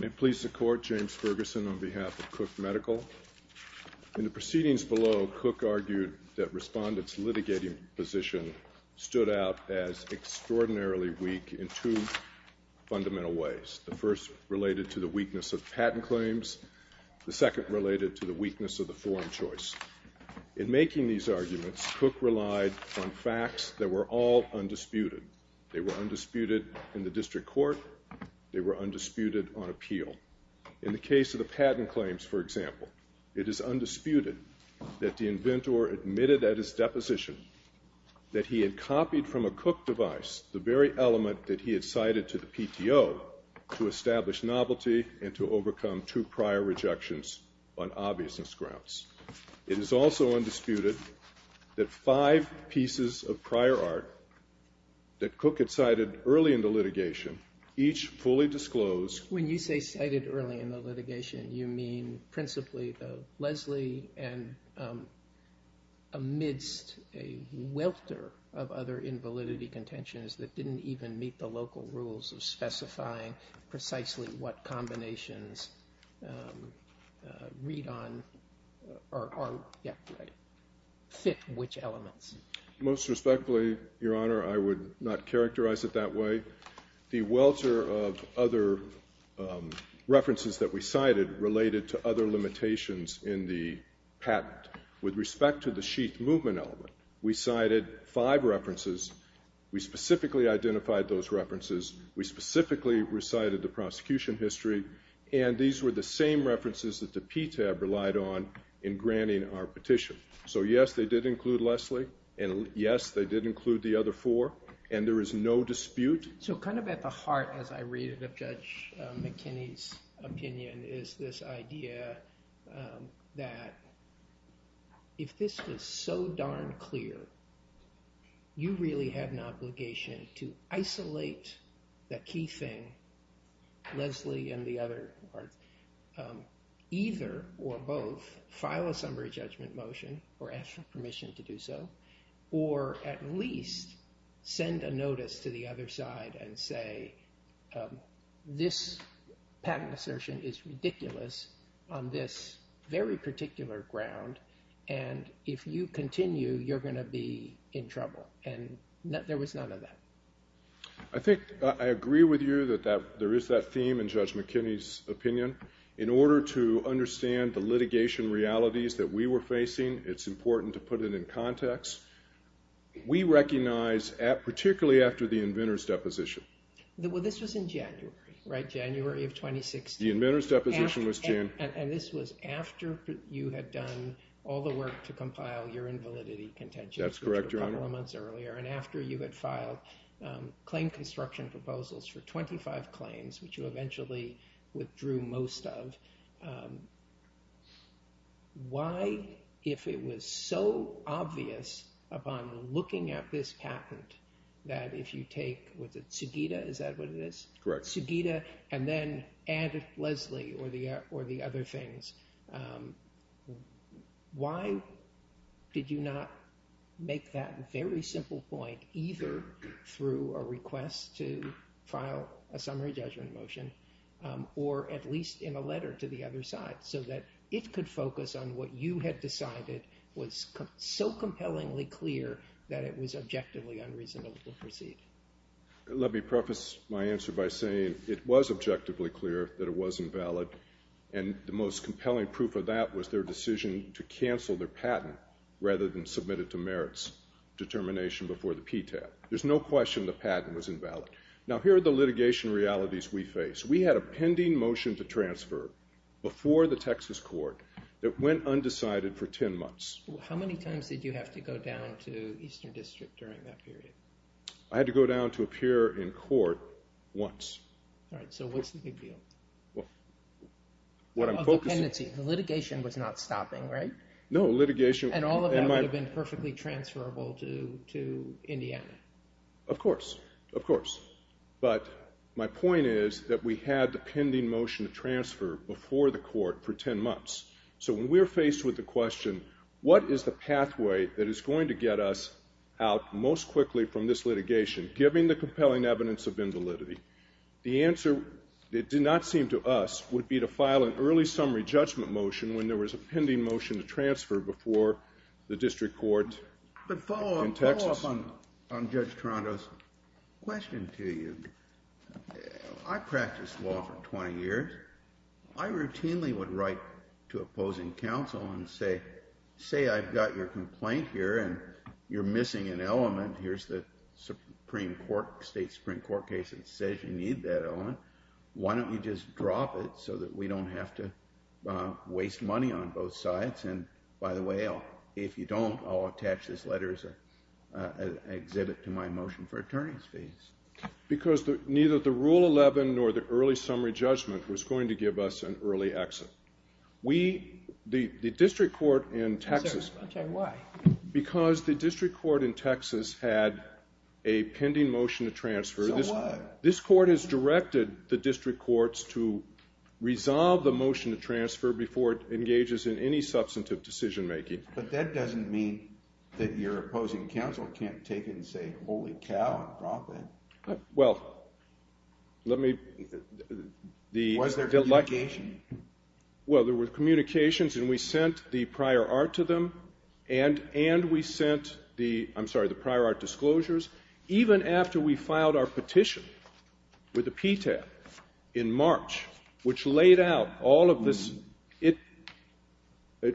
May it please the Court, James Ferguson on behalf of Cook Medical. In the proceedings below, Cook argued that respondents' litigating position stood out as extraordinarily weak in two fundamental ways. The first related to the weakness of patent claims. The second related to the weakness of the form choice. In making these arguments, Cook relied on facts that were all undisputed. They were undisputed in the district court. They were undisputed on appeal. In the case of the patent claims, for example, it is undisputed that the inventor admitted at his deposition that he had copied from a Cook device the very on obviousness grounds. It is also undisputed that five pieces of prior art that Cook had cited early in the litigation, each fully disclosed. When you say cited early in the litigation, you mean principally the Leslie and amidst a welter of other invalidity contentions that didn't even meet the local rules of specifying precisely what read on or fit which elements? Most respectfully, Your Honor, I would not characterize it that way. The welter of other references that we cited related to other limitations in the patent. With respect to the sheath movement element, we cited five references. We specifically identified those references. We specifically recited the prosecution history. And these were the same references that the PTAB relied on in granting our petition. So yes, they did include Leslie. And yes, they did include the other four. And there is no dispute. So kind of at the heart, as I read it, of Judge McKinney's opinion is this idea that if this is so darn clear, you really have an obligation to isolate the key thing, Leslie and the other. Either or both, file a summary judgment motion or ask for permission to do so. Or at least send a notice to the other side and say this patent assertion is ridiculous on this very particular ground. And if you continue, you're going to be in trouble. And there was none of that. I think I agree with you that there is that theme in Judge McKinney's opinion. In order to understand the litigation realities that we were facing, it's important to put it in context. We recognize, particularly after the inventor's deposition. Well, this was in January, right? January of 2016. The inventor's deposition was June. And this was after you had done all the work to compile your invalidity contention. That's correct, Your Honor. Which was a couple of months earlier. And after you had filed claim construction proposals for 25 claims, which you eventually withdrew most of. Why, if it was so obvious upon looking at this patent, that if you take, was it Sugita? Is that what it is? Correct. Sugita, and then add Leslie or the other things. Why did you not make that very simple point either through a request to file a summary judgment motion or at least in a letter to the other side so that it could focus on what you had decided was so compellingly clear that it was objectively unreasonable to proceed? Let me preface my answer by saying it was objectively clear that it wasn't valid. And the most compelling proof of that was their decision to cancel their patent rather than submit it to merits determination before the detail. There's no question the patent was invalid. Now here are the litigation realities we face. We had a pending motion to transfer before the Texas court that went undecided for 10 months. How many times did you have to go down to Eastern District during that period? I had to go down to appear in court once. All right, so what's the big deal? Well, what I'm focusing on... The litigation was not stopping, right? No, litigation... And all of that would have been perfectly transferable to Indiana. Of course, of course. But my point is that we had the pending motion to transfer before the court for 10 months. So when we're faced with the question, what is the pathway that is going to get us out most quickly from this litigation, given the compelling evidence of invalidity? The answer, it did not seem to us, would be to file an early summary judgment motion when there was a pending motion to transfer before the district court in Texas. But follow up on Judge Toronto's question to you. I practiced law for 20 years. I routinely would write to opposing counsel and say, say I've got your complaint here and you're missing an element. Here's the Supreme Court, state Supreme Court case that says you need that element. Why don't you just drop it so that we don't have to waste money on both sides? And by the way, if you don't, I'll attach this letter as an exhibit to my motion for attorney's fees. Because neither the Rule 11 nor the early summary judgment was going to give us an early exit. We, the district court in Texas... Okay, why? Because the district court in Texas had a directed the district courts to resolve the motion to transfer before it engages in any substantive decision making. But that doesn't mean that your opposing counsel can't take it and say, holy cow, drop it. Well, let me... Was there communication? Well, there were communications and we sent the prior art to them and we sent the, I'm sorry, the prior art disclosures, even after we filed our petition with the PTAB in March, which laid out all of this, it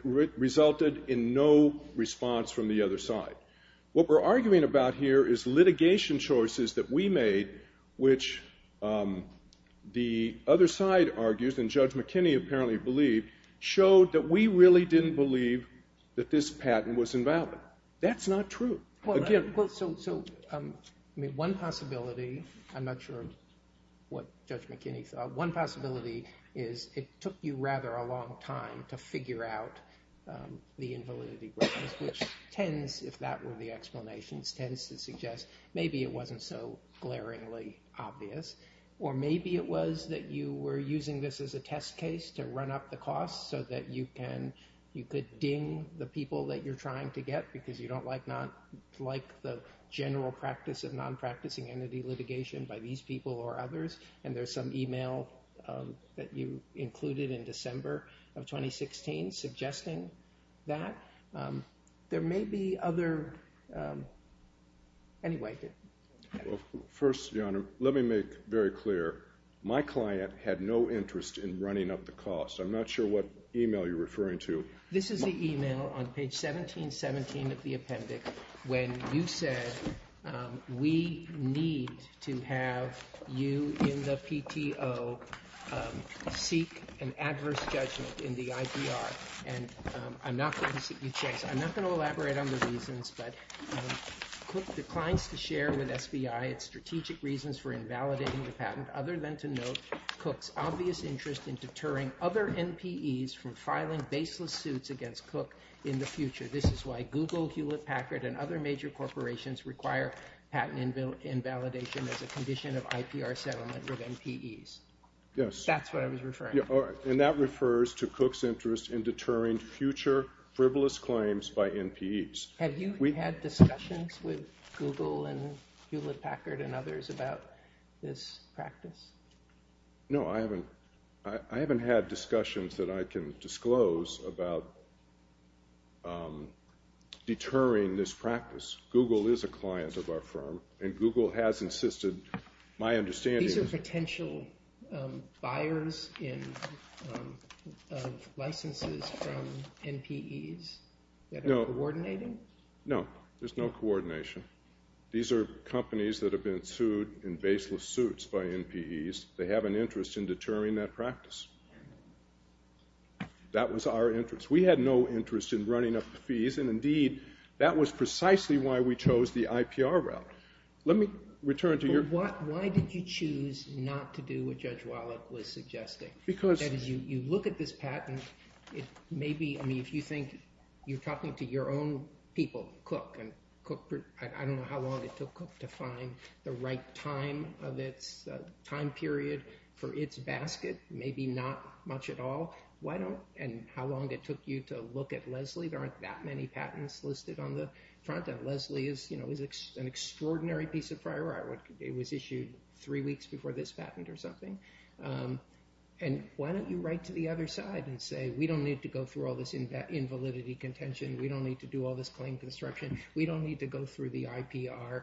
resulted in no response from the other side. What we're arguing about here is litigation choices that we made, which the other side argues and Judge McKinney apparently believed, showed that we really didn't believe that this patent was invalid. That's not true. So, I mean, one possibility, I'm not sure what Judge McKinney thought, one possibility is it took you rather a long time to figure out the invalidity, which tends, if that were the explanations, tends to suggest maybe it wasn't so glaringly obvious, or maybe it was that you were using this as a test case to run up the costs so that you can, you could ping the people that you're trying to get because you don't like the general practice of non-practicing entity litigation by these people or others, and there's some email that you included in December of 2016 suggesting that. There may be other... Anyway. Well, first, Your Honor, let me make very clear, my client had no interest in running up the costs. I'm not sure what email you're referring to. This is the email on page 1717 of the appendix when you said we need to have you in the PTO seek an adverse judgment in the IPR, and I'm not going to... I'm not going to elaborate on the reasons, but Cook declines to share with SBI its strategic reasons for invalidating the patent other than to note Cook's obvious interest in deterring other NPEs from filing baseless suits against Cook in the future. This is why Google, Hewlett-Packard, and other major corporations require patent invalidation as a condition of IPR settlement with NPEs. Yes. That's what I was referring to. Yeah, and that refers to Cook's interest in deterring future frivolous claims by NPEs. Have you had discussions with Google and Hewlett-Packard and others about this practice? No, I haven't. I haven't had discussions that I can disclose about deterring this practice. Google is a client of our firm, and Google has insisted, my understanding... These are potential buyers of licenses from NPEs that are coordinating? No, there's no coordination. These are companies that have been sued in baseless suits by NPEs. They have an interest in deterring that practice. That was our interest. We had no interest in running up the fees, and indeed, that was precisely why we chose the IPR route. Let me return to your... Why did you choose not to do what Judge Wallach was suggesting? Because... You look at this patent. If you think you're talking to your own people, Cook, and I don't know how long it took Cook to find the right time period for its basket, maybe not much at all, and how long it took you to look at Leslie, there aren't that many patents listed on the front end. Leslie is an extraordinary piece of prior art. It was issued three weeks before this patent or something. Why don't you write to the other side and say, we don't need to go through all this invalidity contention. We don't need to do all this claim construction. We don't need to go through the IPR,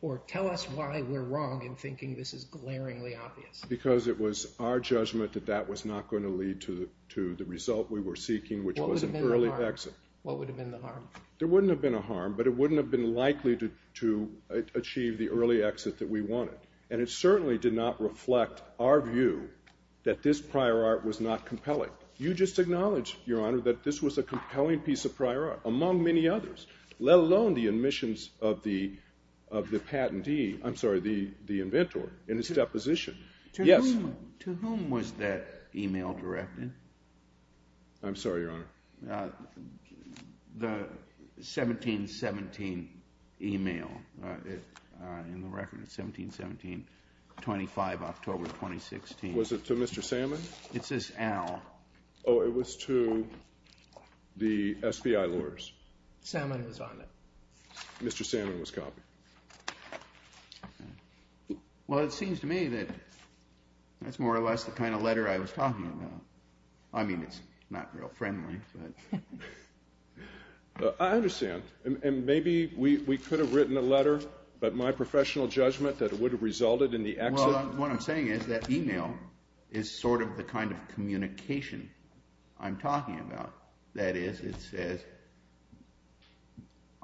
or tell us why we're wrong in thinking this is glaringly obvious. Because it was our judgment that that was not going to lead to the result we were seeking, which was an early exit. What would have been the harm? There wouldn't have been a harm, but it wouldn't have been likely to achieve the early exit that we wanted. And it certainly did not reflect our view that this prior art was not compelling. You just acknowledged, Your Honor, that this was a compelling piece of prior art, among many others, let alone the admissions of the inventor in his deposition. To whom was that email directed? I'm sorry, Your Honor. The 1717 email. In the record, it's 1717, 25 October 2016. Was it to Mr. Salmon? It says Al. Oh, it was to the SBI lawyers. Salmon was on it. Mr. Salmon was copying. Well, it seems to me that that's more or less the kind of letter I was talking about. I understand. And maybe we could have written a letter, but my professional judgment that it would have resulted in the exit. Well, what I'm saying is that email is sort of the kind of communication I'm talking about. That is, it says,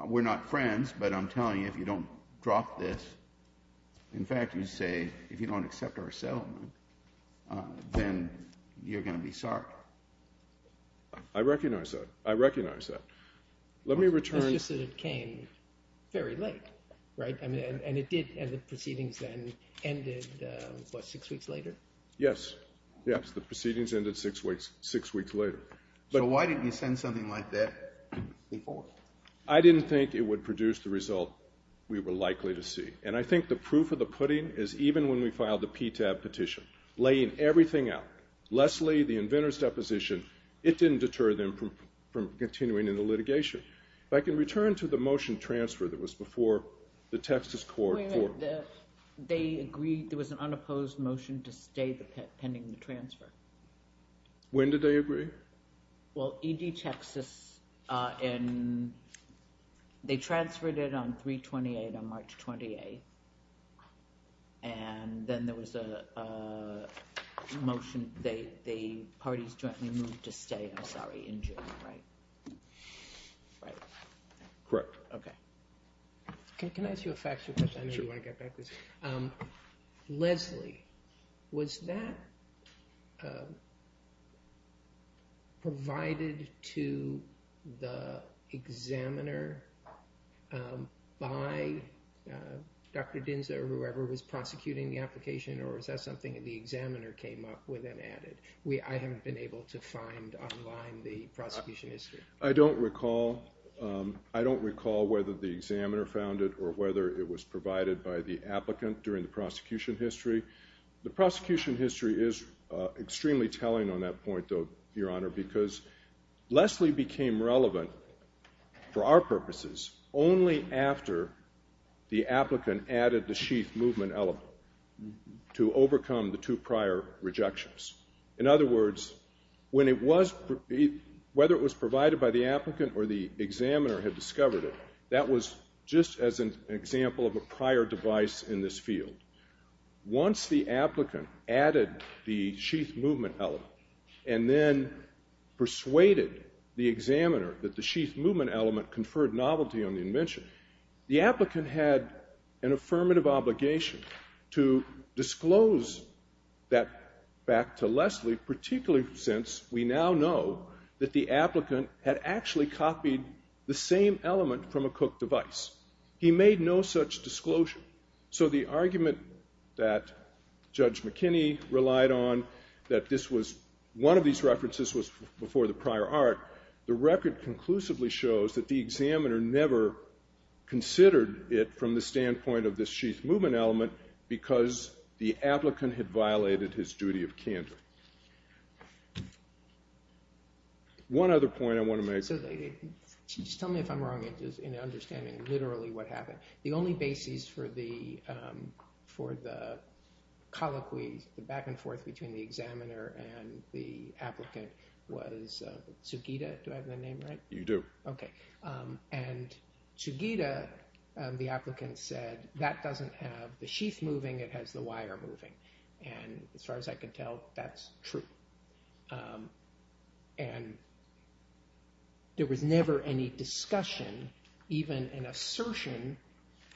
we're not friends, but I'm telling you, if you don't drop this, in fact, you say, if you don't accept our settlement, then you're going to be sorry. I recognize that. I recognize that. Let me return. It's just that it came very late, right? And the proceedings then ended, what, six weeks later? Yes. Yes, the proceedings ended six weeks later. So why didn't you send something like that before? I didn't think it would produce the result we were likely to see. And I think the proof of the pudding is even when we filed the PTAB petition, laying everything out, Leslie, the inventor's deposition, it didn't deter them from continuing in the litigation. If I can return to the motion transfer that was before the Texas court. They agreed there was an unopposed motion to stay pending the transfer. When did they agree? Well, E.D. Texas, they transferred it on 3-28, on March 28th. And then there was a motion, the parties jointly moved to stay, I'm sorry, in June, right? Right. Correct. Okay. Can I ask you a factual question? Sure. Leslie, was that provided to the examiner by Dr. Dinza or whoever was prosecuting the application or was that something the examiner came up with and added? I haven't been able to find online the prosecution history. I don't recall whether the examiner found it or whether it was provided by the applicant during the prosecution history. The prosecution history is extremely telling on that point, though, Your Honor, because Leslie became relevant for our purposes only after the applicant added the sheath movement element to overcome the two prior rejections. In other words, whether it was provided by the applicant or the examiner had discovered it, that was just as an example of a prior device in this field. Once the applicant added the sheath movement element and then persuaded the examiner that the sheath movement element conferred novelty on the invention, the applicant had an affirmative obligation to disclose that fact to Leslie, particularly since we now know that the applicant had actually copied the same element from a cook device. He made no such disclosure. So the argument that Judge McKinney relied on, that this was one of these references was before the prior art, the record conclusively shows that the applicant considered it from the standpoint of the sheath movement element because the applicant had violated his duty of candor. One other point I want to make. So just tell me if I'm wrong in understanding literally what happened. The only basis for the colloquies, the back and forth between the examiner and the applicant was Sugita. Do I have that name right? You do. Okay. And Sugita, the applicant said, that doesn't have the sheath moving, it has the wire moving. And as far as I could tell, that's true. And there was never any discussion, even an assertion,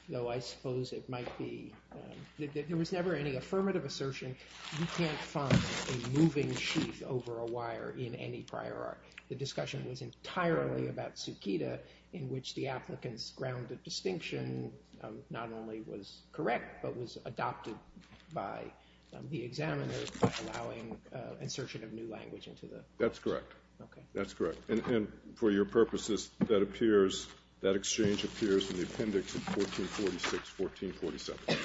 though I suppose it might be, there was never any affirmative assertion, you can't find a moving sheath over a wire in any prior art. The discussion was entirely about Sugita in which the applicant's grounded distinction not only was correct but was adopted by the examiner allowing insertion of new language into the. That's correct. Okay. That's correct. And for your purposes, that exchange appears in the appendix of 1446, 1447.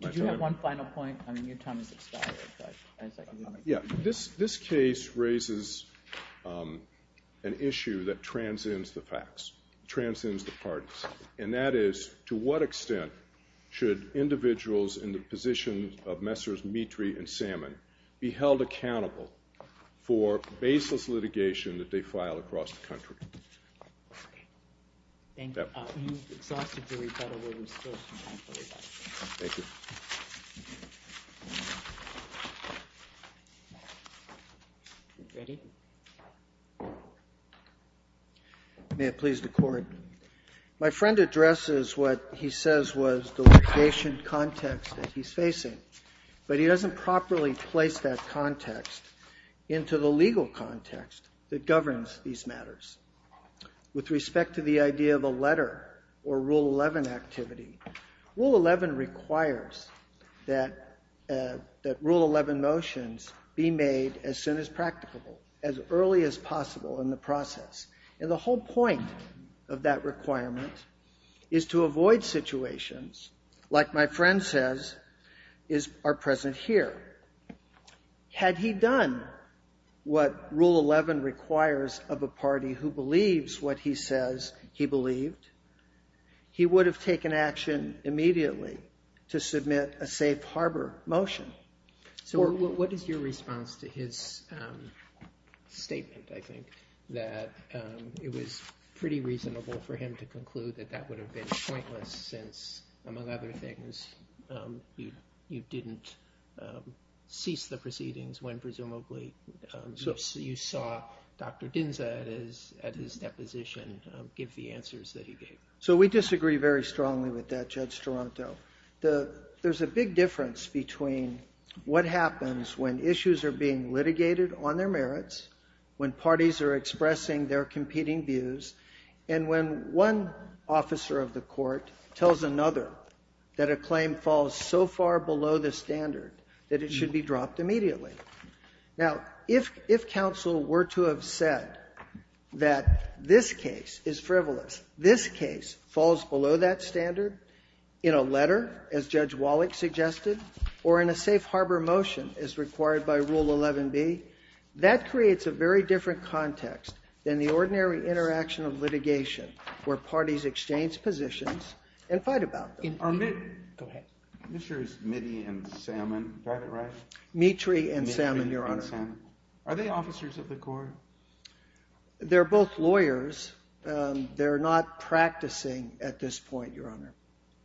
Did you have one final point? I mean, your time has expired. Yeah, this case raises an issue that transcends the facts, transcends the parties, and that is to what extent should individuals in the position of Messrs. Mitri and Salmon be held accountable for baseless litigation that they file across the country? Thank you. You've exhausted your rebuttal. We're still talking about it. Thank you. Ready? May it please the Court. My friend addresses what he says was the litigation context that he's facing, but he doesn't properly place that context into the legal context that governs these matters. With respect to the idea of a letter or Rule 11 activity, Rule 11 requires that Rule 11 motions be made as soon as practicable, as early as possible in the process. And the whole point of that requirement is to avoid situations, like my friend says, are present here. Had he done what Rule 11 requires of a party who believes what he says he believed, he would have taken action immediately to submit a safe harbor motion. What is your response to his statement, I think, that it was pretty reasonable for him to conclude that that would have been pointless since, among other things, you didn't cease the proceedings when presumably you saw Dr. Smith's position give the answers that he gave. So we disagree very strongly with that, Judge Toronto. There's a big difference between what happens when issues are being litigated on their merits, when parties are expressing their competing views, and when one officer of the court tells another that a claim falls so far below the standard that it should be dropped immediately. Now, if counsel were to have said that this case is frivolous, this case falls below that standard in a letter, as Judge Wallach suggested, or in a safe harbor motion as required by Rule 11b, that creates a very different context than the ordinary interaction of litigation, where parties exchange positions and fight about them. Go ahead. Mr. Mitty and Salmon, is that right? Mitry and Salmon, Your Honor. Are they officers of the court? They're both lawyers. They're not practicing at this point, Your Honor.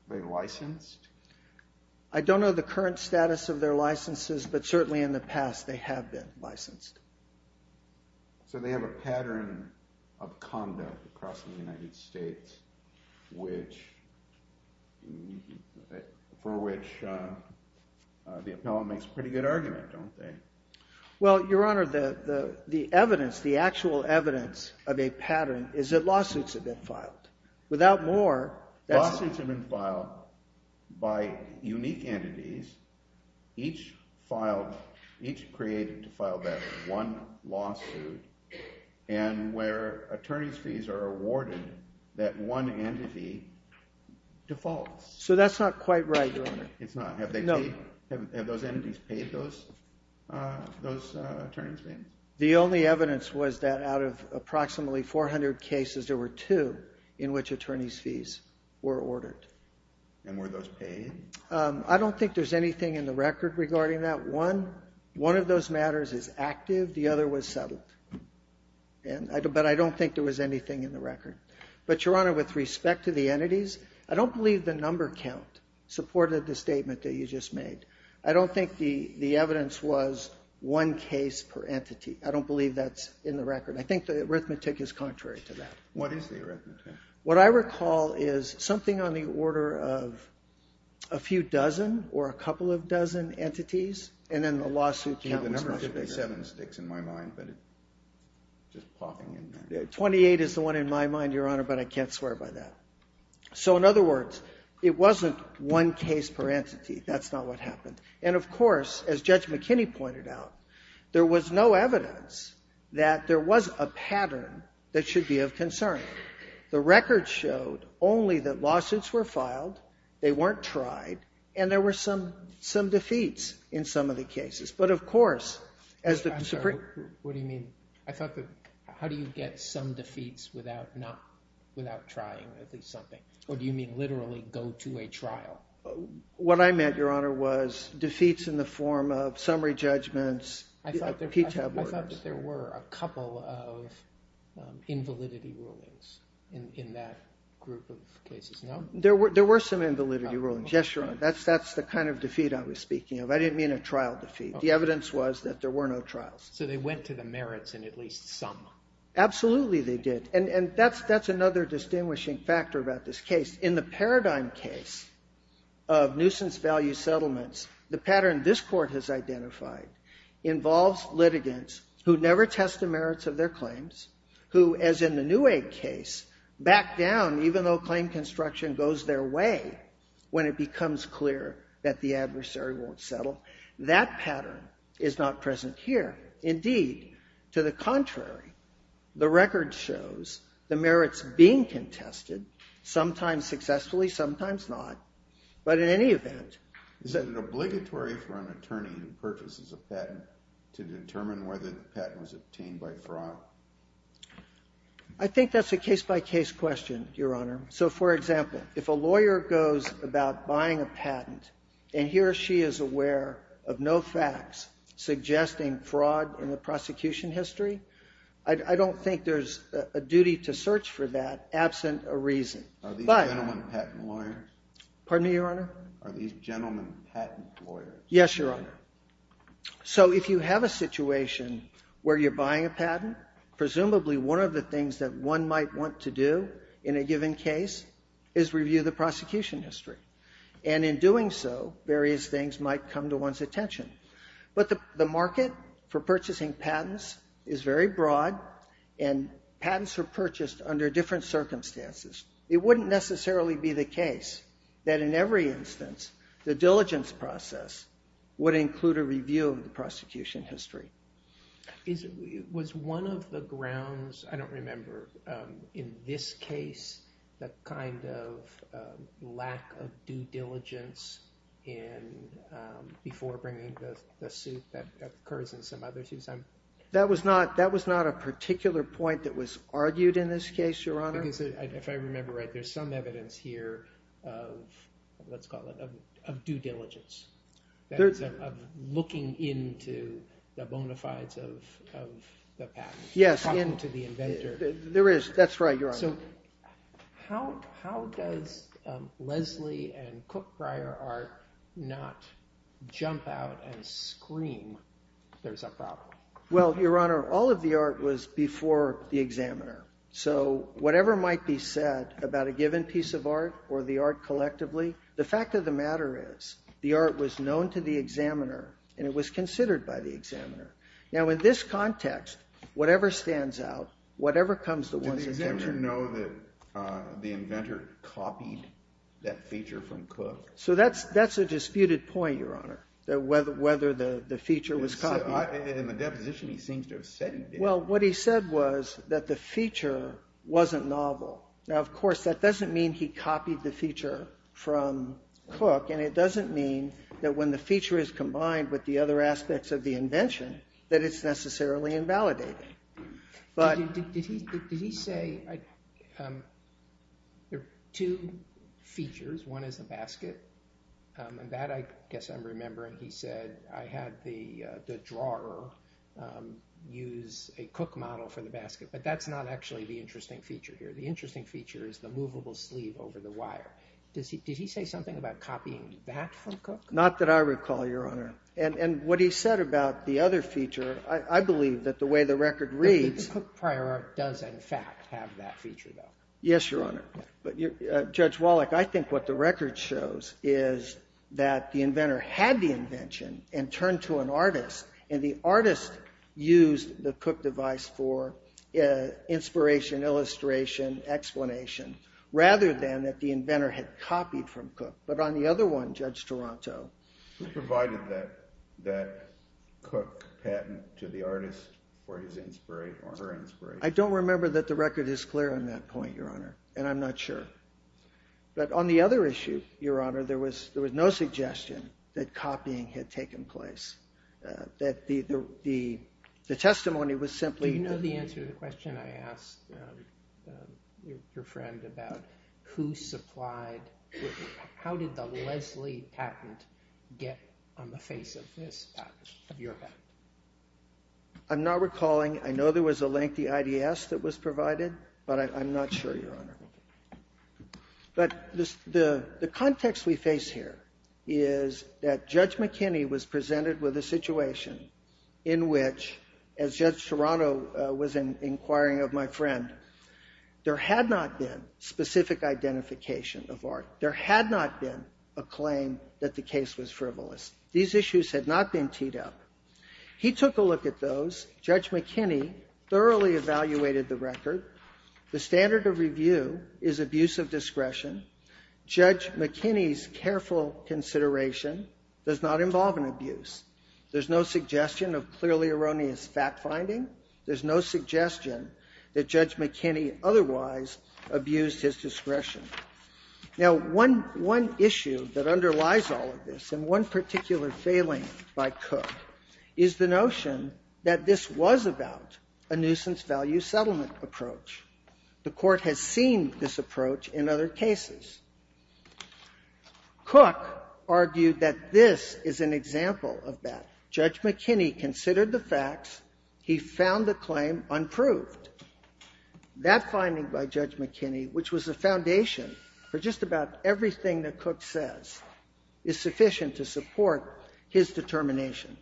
Are they licensed? I don't know the current status of their licenses, but certainly in the past they have been licensed. So they have a pattern of conduct across the United States, for which the appellant makes a pretty good argument, don't they? Well, Your Honor, the evidence, the actual evidence of a pattern is that lawsuits have been filed. Without more... Lawsuits have been filed by unique entities, each created to file that one lawsuit, and where attorneys' fees are awarded, that one entity defaults. So that's not quite right, Your Honor. It's not. Have those entities paid those attorneys' fees? The only evidence was that out of approximately 400 cases, there were two in which attorneys' fees were ordered. And were those paid? I don't think there's anything in the record regarding that. One of those matters is active, the other was settled. But I don't think there was anything in the record. But, Your Honor, with respect to the entities, I don't believe the number count supported the statement that you just made. I don't think the evidence was one case per entity. I don't believe that's in the record. I think the arithmetic is contrary to that. What is the arithmetic? What I recall is something on the order of a few dozen or a couple of dozen entities, and then the lawsuit count was much bigger. 27 sticks in my mind, but it's just popping in there. 28 is the one in my mind, Your Honor, but I can't swear by that. So in other words, it wasn't one case per entity. That's not what happened. And of course, as Judge McKinney pointed out, there was no evidence that there was a pattern that should be of concern. The record showed only that lawsuits were filed, they weren't tried, and there were some defeats in some of the cases. But of course... I'm sorry. What do you mean? I thought that... How do you get some defeats without trying at least something? Or do you mean literally go to a trial? What I meant, Your Honor, was defeats in the form of summary judgments, PTAB orders. I thought that there were a couple of invalidity rulings in that group of cases. No? There were some invalidity rulings. Yes, Your Honor. That's the kind of defeat I was speaking of. I didn't mean a trial defeat. The evidence was that there were no trials. So they went to the merits in at least some. Absolutely they did. And that's another distinguishing factor about this case. In the Paradigm case of nuisance value settlements, the pattern this Court has identified involves litigants who never test the merits of their claims, who, as in the Newegg case, back down even though claim construction goes their way when it becomes clear that the adversary won't settle. That pattern is not present here. Indeed, to the contrary, the record shows the merits being contested, sometimes successfully, sometimes not. But in any event... Is it obligatory for an attorney who purchases a patent to determine whether the patent was obtained by fraud? I think that's a case-by-case question, Your Honor. So, for example, if a lawyer goes about buying a patent and he or she is aware of no facts suggesting fraud in the prosecution history, I don't think there's a duty to search for that absent a reason. Are these gentlemen patent lawyers? Pardon me, Your Honor? Are these gentlemen patent lawyers? Yes, Your Honor. So if you have a situation where you're buying a patent, presumably one of the things that one might want to do in a given case is review the prosecution history. And in doing so, various things might come to one's attention. But the market for purchasing patents is very broad and patents are purchased under different circumstances. It wouldn't necessarily be the case that in every instance the diligence process would include a review of the prosecution history. Was one of the grounds, I don't remember, in this case the kind of lack of due diligence before bringing the suit that occurs in some other suits? That was not a particular point that was argued in this case, Your Honor? If I remember right, there's some evidence here of, let's call it, of due diligence. Of looking into the bona fides of the patent. Yes. Into the inventor. There is. That's right, Your Honor. So how does Leslie and Cook-Brier Art not jump out and scream there's a problem? Well, Your Honor, all of the art was before the examiner. So whatever might be said about a given piece of art or the art collectively, the fact of the matter is, the art was known to the examiner and it was considered by the examiner. Now in this context, whatever stands out, whatever comes to one's attention. Did the examiner know that the inventor copied that feature from Cook? So that's a disputed point, Your Honor, whether the feature was copied. In the deposition he seems to have said it. Well, what he said was that the feature wasn't novel. Now, of course, that doesn't mean he copied the feature from Cook and it doesn't mean that when the feature is combined with the other aspects of the invention that it's necessarily invalidated. Did he say there are two features, one is the basket, and that I guess I'm remembering he said I had the drawer use a Cook model for the basket, but that's not actually the interesting feature here. The interesting feature is the movable sleeve over the wire. Did he say something about copying that from Cook? Not that I recall, Your Honor. And what he said about the other feature, I believe that the way the record reads... Cook prior art does in fact have that feature, though. Yes, Your Honor. Judge Wallach, I think what the record shows is that the inventor had the invention and turned to an artist and the artist used the Cook device for inspiration, illustration, explanation, rather than that the inventor had copied from Cook. But on the other one, Judge Toronto... Who provided that Cook patent to the artist for his inspiration? I don't remember that the record is clear on that point, Your Honor, and I'm not sure. But on the other issue, Your Honor, there was no suggestion that copying had taken place, that the testimony was simply... Do you know the answer to the question I asked your friend about who supplied... How did the Leslie patent get on the face of this patent, of your patent? I'm not recalling. I know there was a lengthy IDS that was provided, but I'm not sure, Your Honor. But the context we face here is that Judge McKinney was presented with a situation in which, as Judge Toronto was inquiring of my friend, there had not been specific identification of art. There had not been a claim that the case was frivolous. These issues had not been teed up. He took a look at those. Judge McKinney thoroughly evaluated the record. The standard of review is abuse of discretion. Judge McKinney's careful consideration does not involve an abuse. There's no suggestion of clearly erroneous fact-finding. There's no suggestion that Judge McKinney otherwise abused his discretion. Now, one issue that underlies all of this, and one particular failing by Cook, is the notion that this was about a nuisance-value settlement approach. The court has seen this approach in other cases. Cook argued that this is an example of that. Judge McKinney considered the facts. He found the claim unproved. That finding by Judge McKinney, which was a foundation for just about everything that Cook says, is sufficient to support his determination.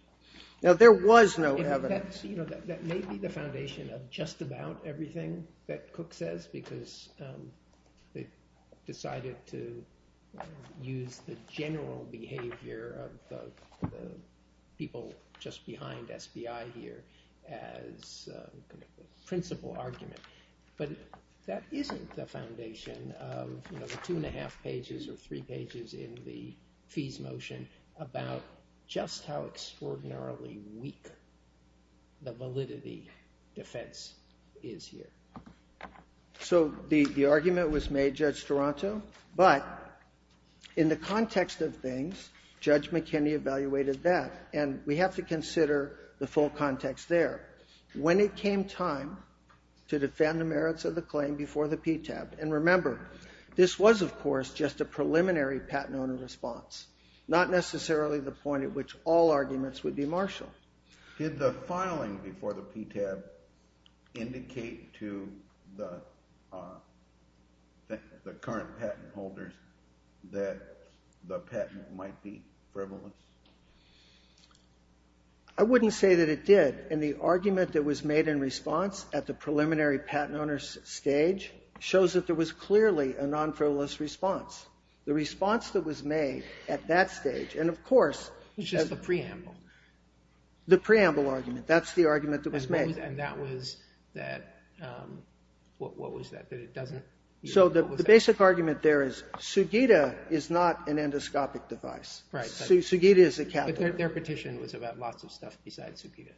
Now, there was no evidence... That may be the foundation of just about everything that Cook says, just because they decided to use the general behavior of the people just behind SBI here as a principle argument. But that isn't the foundation of, you know, the 2 1⁄2 pages or 3 pages in the fees motion about just how extraordinarily weak the validity defense is here. So the argument was made, Judge Toronto, but in the context of things, Judge McKinney evaluated that, and we have to consider the full context there. When it came time to defend the merits of the claim before the PTAB, and remember, this was, of course, just a preliminary patent owner response, not necessarily the point at which all arguments would be martial. Did the filing before the PTAB indicate to the current patent holders that the patent might be frivolous? I wouldn't say that it did, and the argument that was made in response at the preliminary patent owner stage shows that there was clearly a non-frivolous response. The response that was made at that stage, and of course... It was just the preamble. The preamble argument. That's the argument that was made. And that was that... What was that? So the basic argument there is Sugita is not an endoscopic device. Sugita is a catheter. Their petition was about lots of stuff besides Sugita.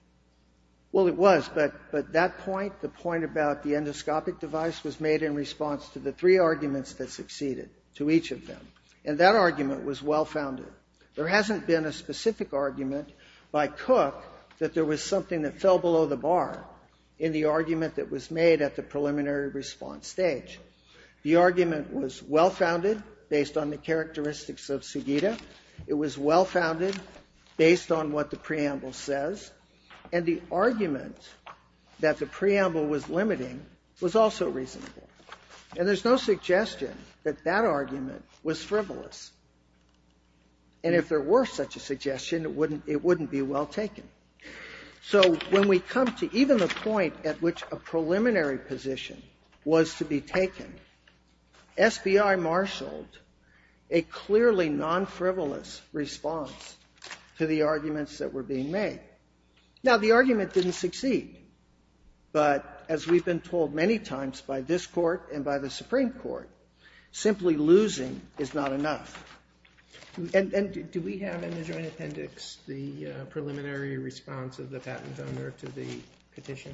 Well, it was, but that point, the point about the endoscopic device was made in response to the three arguments that succeeded, to each of them. And that argument was well-founded. There hasn't been a specific argument by Cook that there was something that fell below the bar in the argument that was made at the preliminary response stage. The argument was well-founded based on the characteristics of Sugita. It was well-founded based on what the preamble says. And the argument that the preamble was limiting was also reasonable. And there's no suggestion that that argument was frivolous. And if there were such a suggestion, it wouldn't be well taken. So when we come to even the point at which a preliminary position was to be taken, SBI marshaled a clearly non-frivolous response to the arguments that were being made. Now, the argument didn't succeed. But as we've been told many times by this Court and by the Supreme Court, simply losing is not enough. And do we have in the Joint Appendix the preliminary response of the patent owner to the petition? But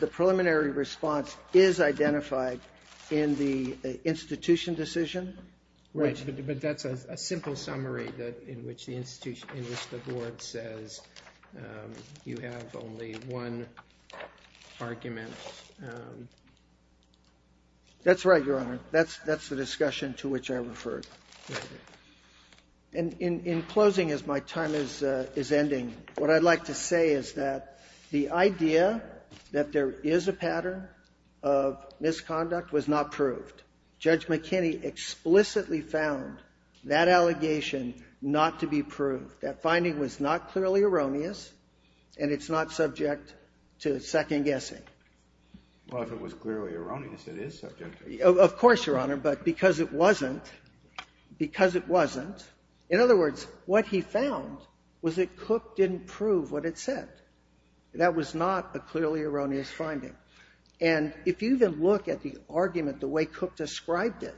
the preliminary response is identified in the institution decision? Right, but that's a simple summary in which the board says you have only one argument. That's right, Your Honor. That's the discussion to which I referred. And in closing, as my time is ending, what I'd like to say is that the idea that there is a pattern of misconduct was not proved. Judge McKinney explicitly found that allegation not to be proved. That finding was not clearly erroneous, and it's not subject to second-guessing. Well, if it was clearly erroneous, it is subject to it. Of course, Your Honor, but because it wasn't, because it wasn't, in other words, what he found was that Cook didn't prove what it said. That was not a clearly erroneous finding. And if you even look at the argument, the way Cook described it,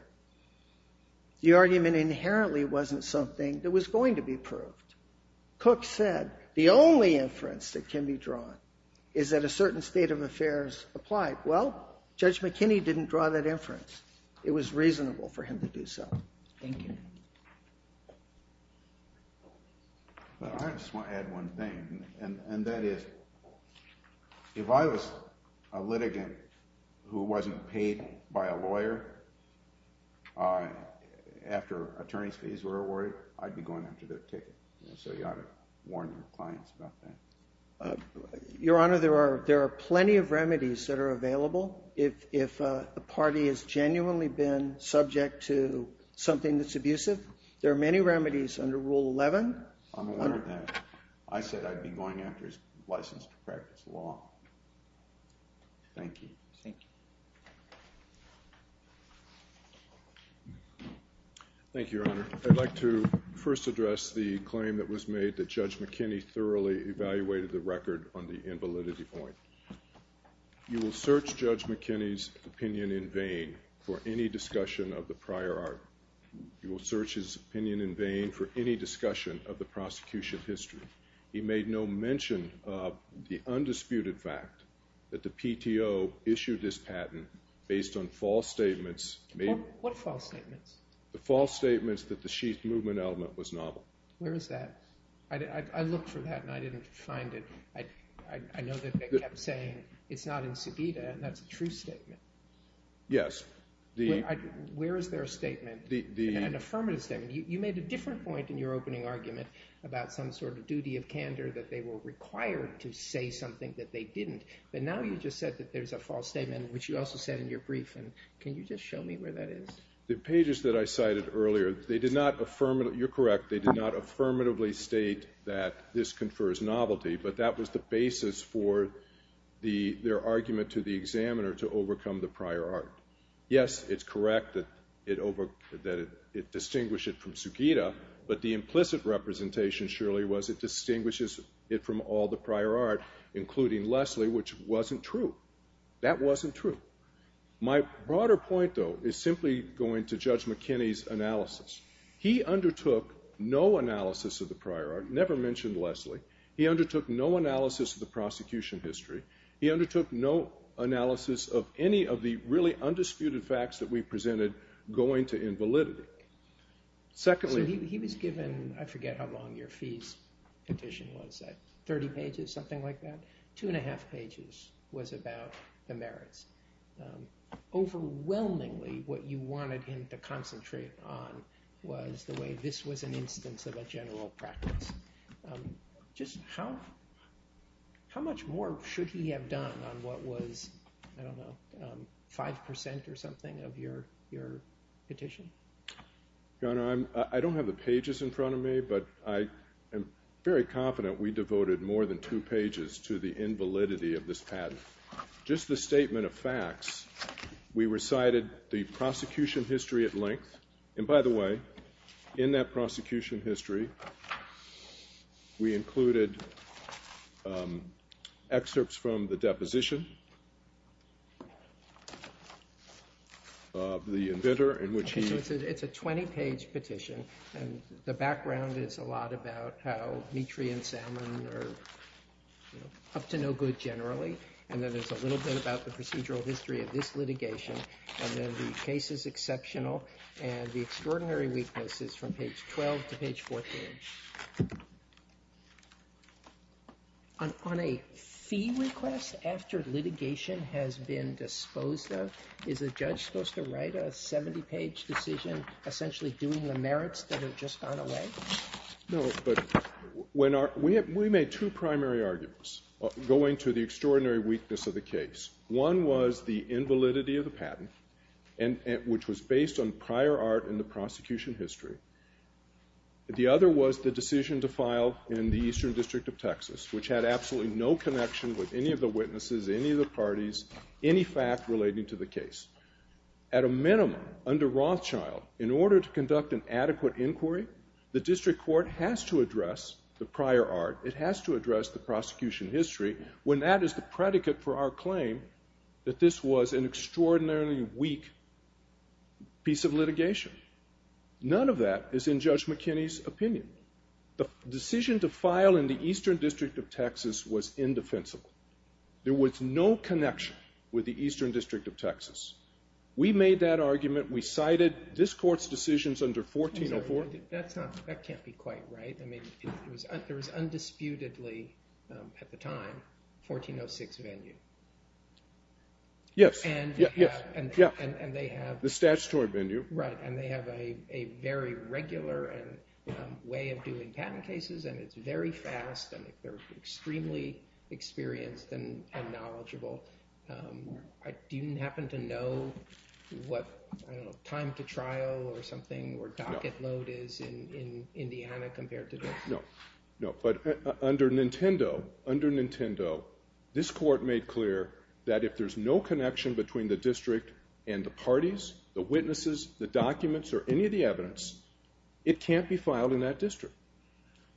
the argument inherently wasn't something that was going to be proved. Cook said the only inference that can be drawn is that a certain state of affairs applied. Well, Judge McKinney didn't draw that inference. It was reasonable for him to do so. Thank you. I just want to add one thing, and that is, if I was a litigant who wasn't paid by a lawyer after attorney's fees were awarded, I'd be going after their ticket. So you ought to warn your clients about that. Your Honor, there are plenty of remedies that are available if a party has genuinely been subject to something that's abusive. There are many remedies under Rule 11. I'm aware of that. I said I'd be going after his license to practice law. Thank you. Thank you, Your Honor. I'd like to first address the claim that was made that Judge McKinney thoroughly evaluated the record on the invalidity point. You will search Judge McKinney's opinion in vain for any discussion of the prior art. You will search his opinion in vain for any discussion of the prosecution history. He made no mention of the undisputed fact that the PTO issued this patent based on false statements. What false statements? The false statements that the sheath movement element was novel. Where is that? I looked for that, and I didn't find it. I know that they kept saying, it's not in subita, and that's a true statement. Yes. Where is there a statement, an affirmative statement? You made a different point in your opening argument about some sort of duty of candor that they were required to say something that they didn't. But now you just said that there's a false statement, which you also said in your brief. Can you just show me where that is? The pages that I cited earlier, they did not affirmatively, you're correct, they did not affirmatively state that this confers novelty, but that was the basis for their argument to the examiner to overcome the prior art. Yes, it's correct that it distinguished it from subita, but the implicit representation, surely, was it distinguishes it from all the prior art, including Leslie, which wasn't true. That wasn't true. My broader point, though, is simply going to Judge McKinney's analysis. He undertook no analysis of the prior art, never mentioned Leslie. He undertook no analysis of the prosecution history. He undertook no analysis of any of the really undisputed facts that we presented going to invalidity. Secondly... So he was given, I forget how long your fees petition was, 30 pages, something like that? Two and a half pages was about the merits. Overwhelmingly, what you wanted him to concentrate on was the way this was an instance of a general practice. Just how much more should he have done on what was, I don't know, 5% or something of your petition? Your Honor, I don't have the pages in front of me, but I am very confident we devoted more than two pages to the invalidity of this patent. Just the statement of facts, we recited the prosecution history at length. And by the way, in that prosecution history, we included excerpts from the deposition, the inventor, in which he... It's a 20-page petition, and the background is a lot about how Mitri and Salmon are up to no good generally, and then there's a little bit about the procedural history of this litigation, and then the case is exceptional, and the extraordinary weakness is from page 12 to page 14. On a fee request after litigation, after litigation has been disposed of, is a judge supposed to write a 70-page decision essentially doing the merits that have just gone away? No, but... We made two primary arguments going to the extraordinary weakness of the case. One was the invalidity of the patent, which was based on prior art in the prosecution history. The other was the decision to file in the Eastern District of Texas, which had absolutely no connection with any of the witnesses, any of the parties, any fact relating to the case. At a minimum, under Rothschild, in order to conduct an adequate inquiry, the district court has to address the prior art, it has to address the prosecution history, when that is the predicate for our claim that this was an extraordinarily weak piece of litigation. None of that is in Judge McKinney's opinion. The decision to file in the Eastern District of Texas was indefensible. There was no connection with the Eastern District of Texas. We made that argument, we cited this court's decisions under 1404. That's not, that can't be quite right. I mean, there was undisputedly at the time 1406 venue. Yes, yes, yeah. And they have The statutory venue. Right, and they have a very regular way of doing patent cases and it's very fast and they're extremely experienced and knowledgeable. I didn't happen to know what I don't know time to trial or something or docket load is in Indiana compared to this. No, no, but under Nintendo, under Nintendo this court made clear that if there's no connection between the district and the parties, the witnesses, the documents, or any of the other things that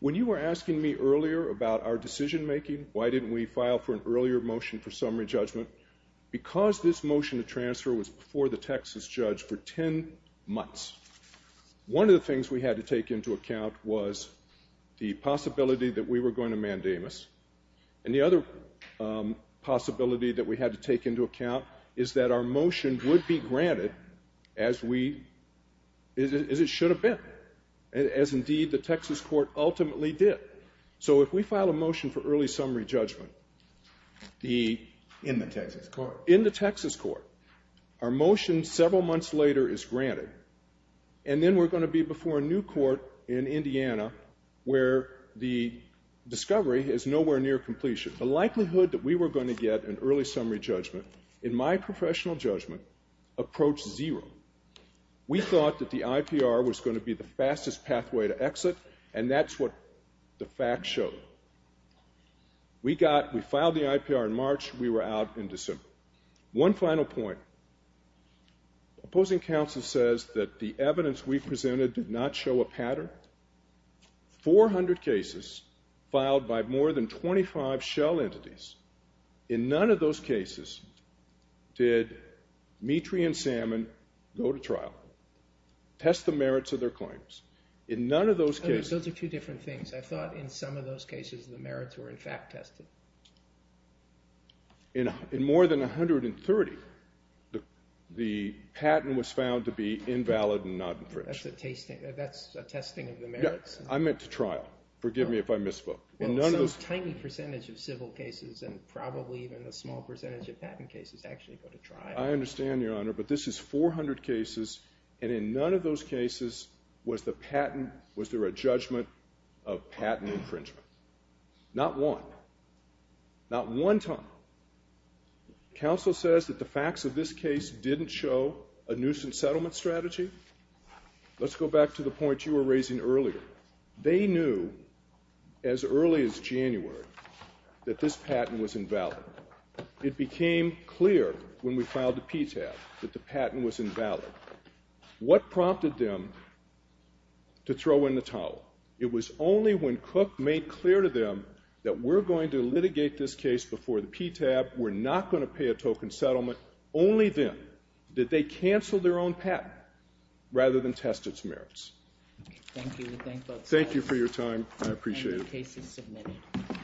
were about our decision making, why didn't we file for an earlier motion for summary judgment because this motion to transfer was before the Texas judge for 10 months. One of the things we had to take into account was the possibility that we were going to mandamus and the other possibility that we had to take into account is that our motion would be granted as we as it should have been as indeed the Texas court ultimately did. So if we file a motion for early summary judgment the in the Texas court in the Texas court our motion several months later is granted and then we're going to be before a new court in Indiana where the discovery is nowhere near completion. The likelihood that we were going to get an early summary judgment in my professional judgment approached zero. We thought that the IPR was going to be the fastest pathway to exit and that's what the facts showed. We got we filed the IPR in March we were out in December. One final point opposing counsel says that the evidence we presented did not show a pattern. 400 cases filed by more than 25 shell entities in none of those cases did Metri and Salmon go to trial test the merits of their claims in none of those cases those are two different things I thought in some of those cases the merits were in fact tested. In more than 130 the patent was found to be invalid and not infringed. That's a testing of the merits? I meant to trial forgive me if I misspoke. Some tiny percentage of civil cases and probably even a small percentage of patent cases actually go to trial. I understand your honor but this is 400 cases and in none of those cases was the patent was there a judgment of patent infringement. Not one. Not one time. Counsel says that the facts of this case didn't show a nuisance settlement strategy. Let's go back to the point you were raising earlier. They knew as early as January that this patent was invalid. It became clear when we filed the PTAB that the patent was invalid. What prompted them to throw in the towel? It was only when Cook made clear to them that we're going to litigate this case before the PTAB we're not going to pay a token settlement. Only then did they cancel their own patent rather than test its merits. Thank you. Thank you for your time. I appreciate it.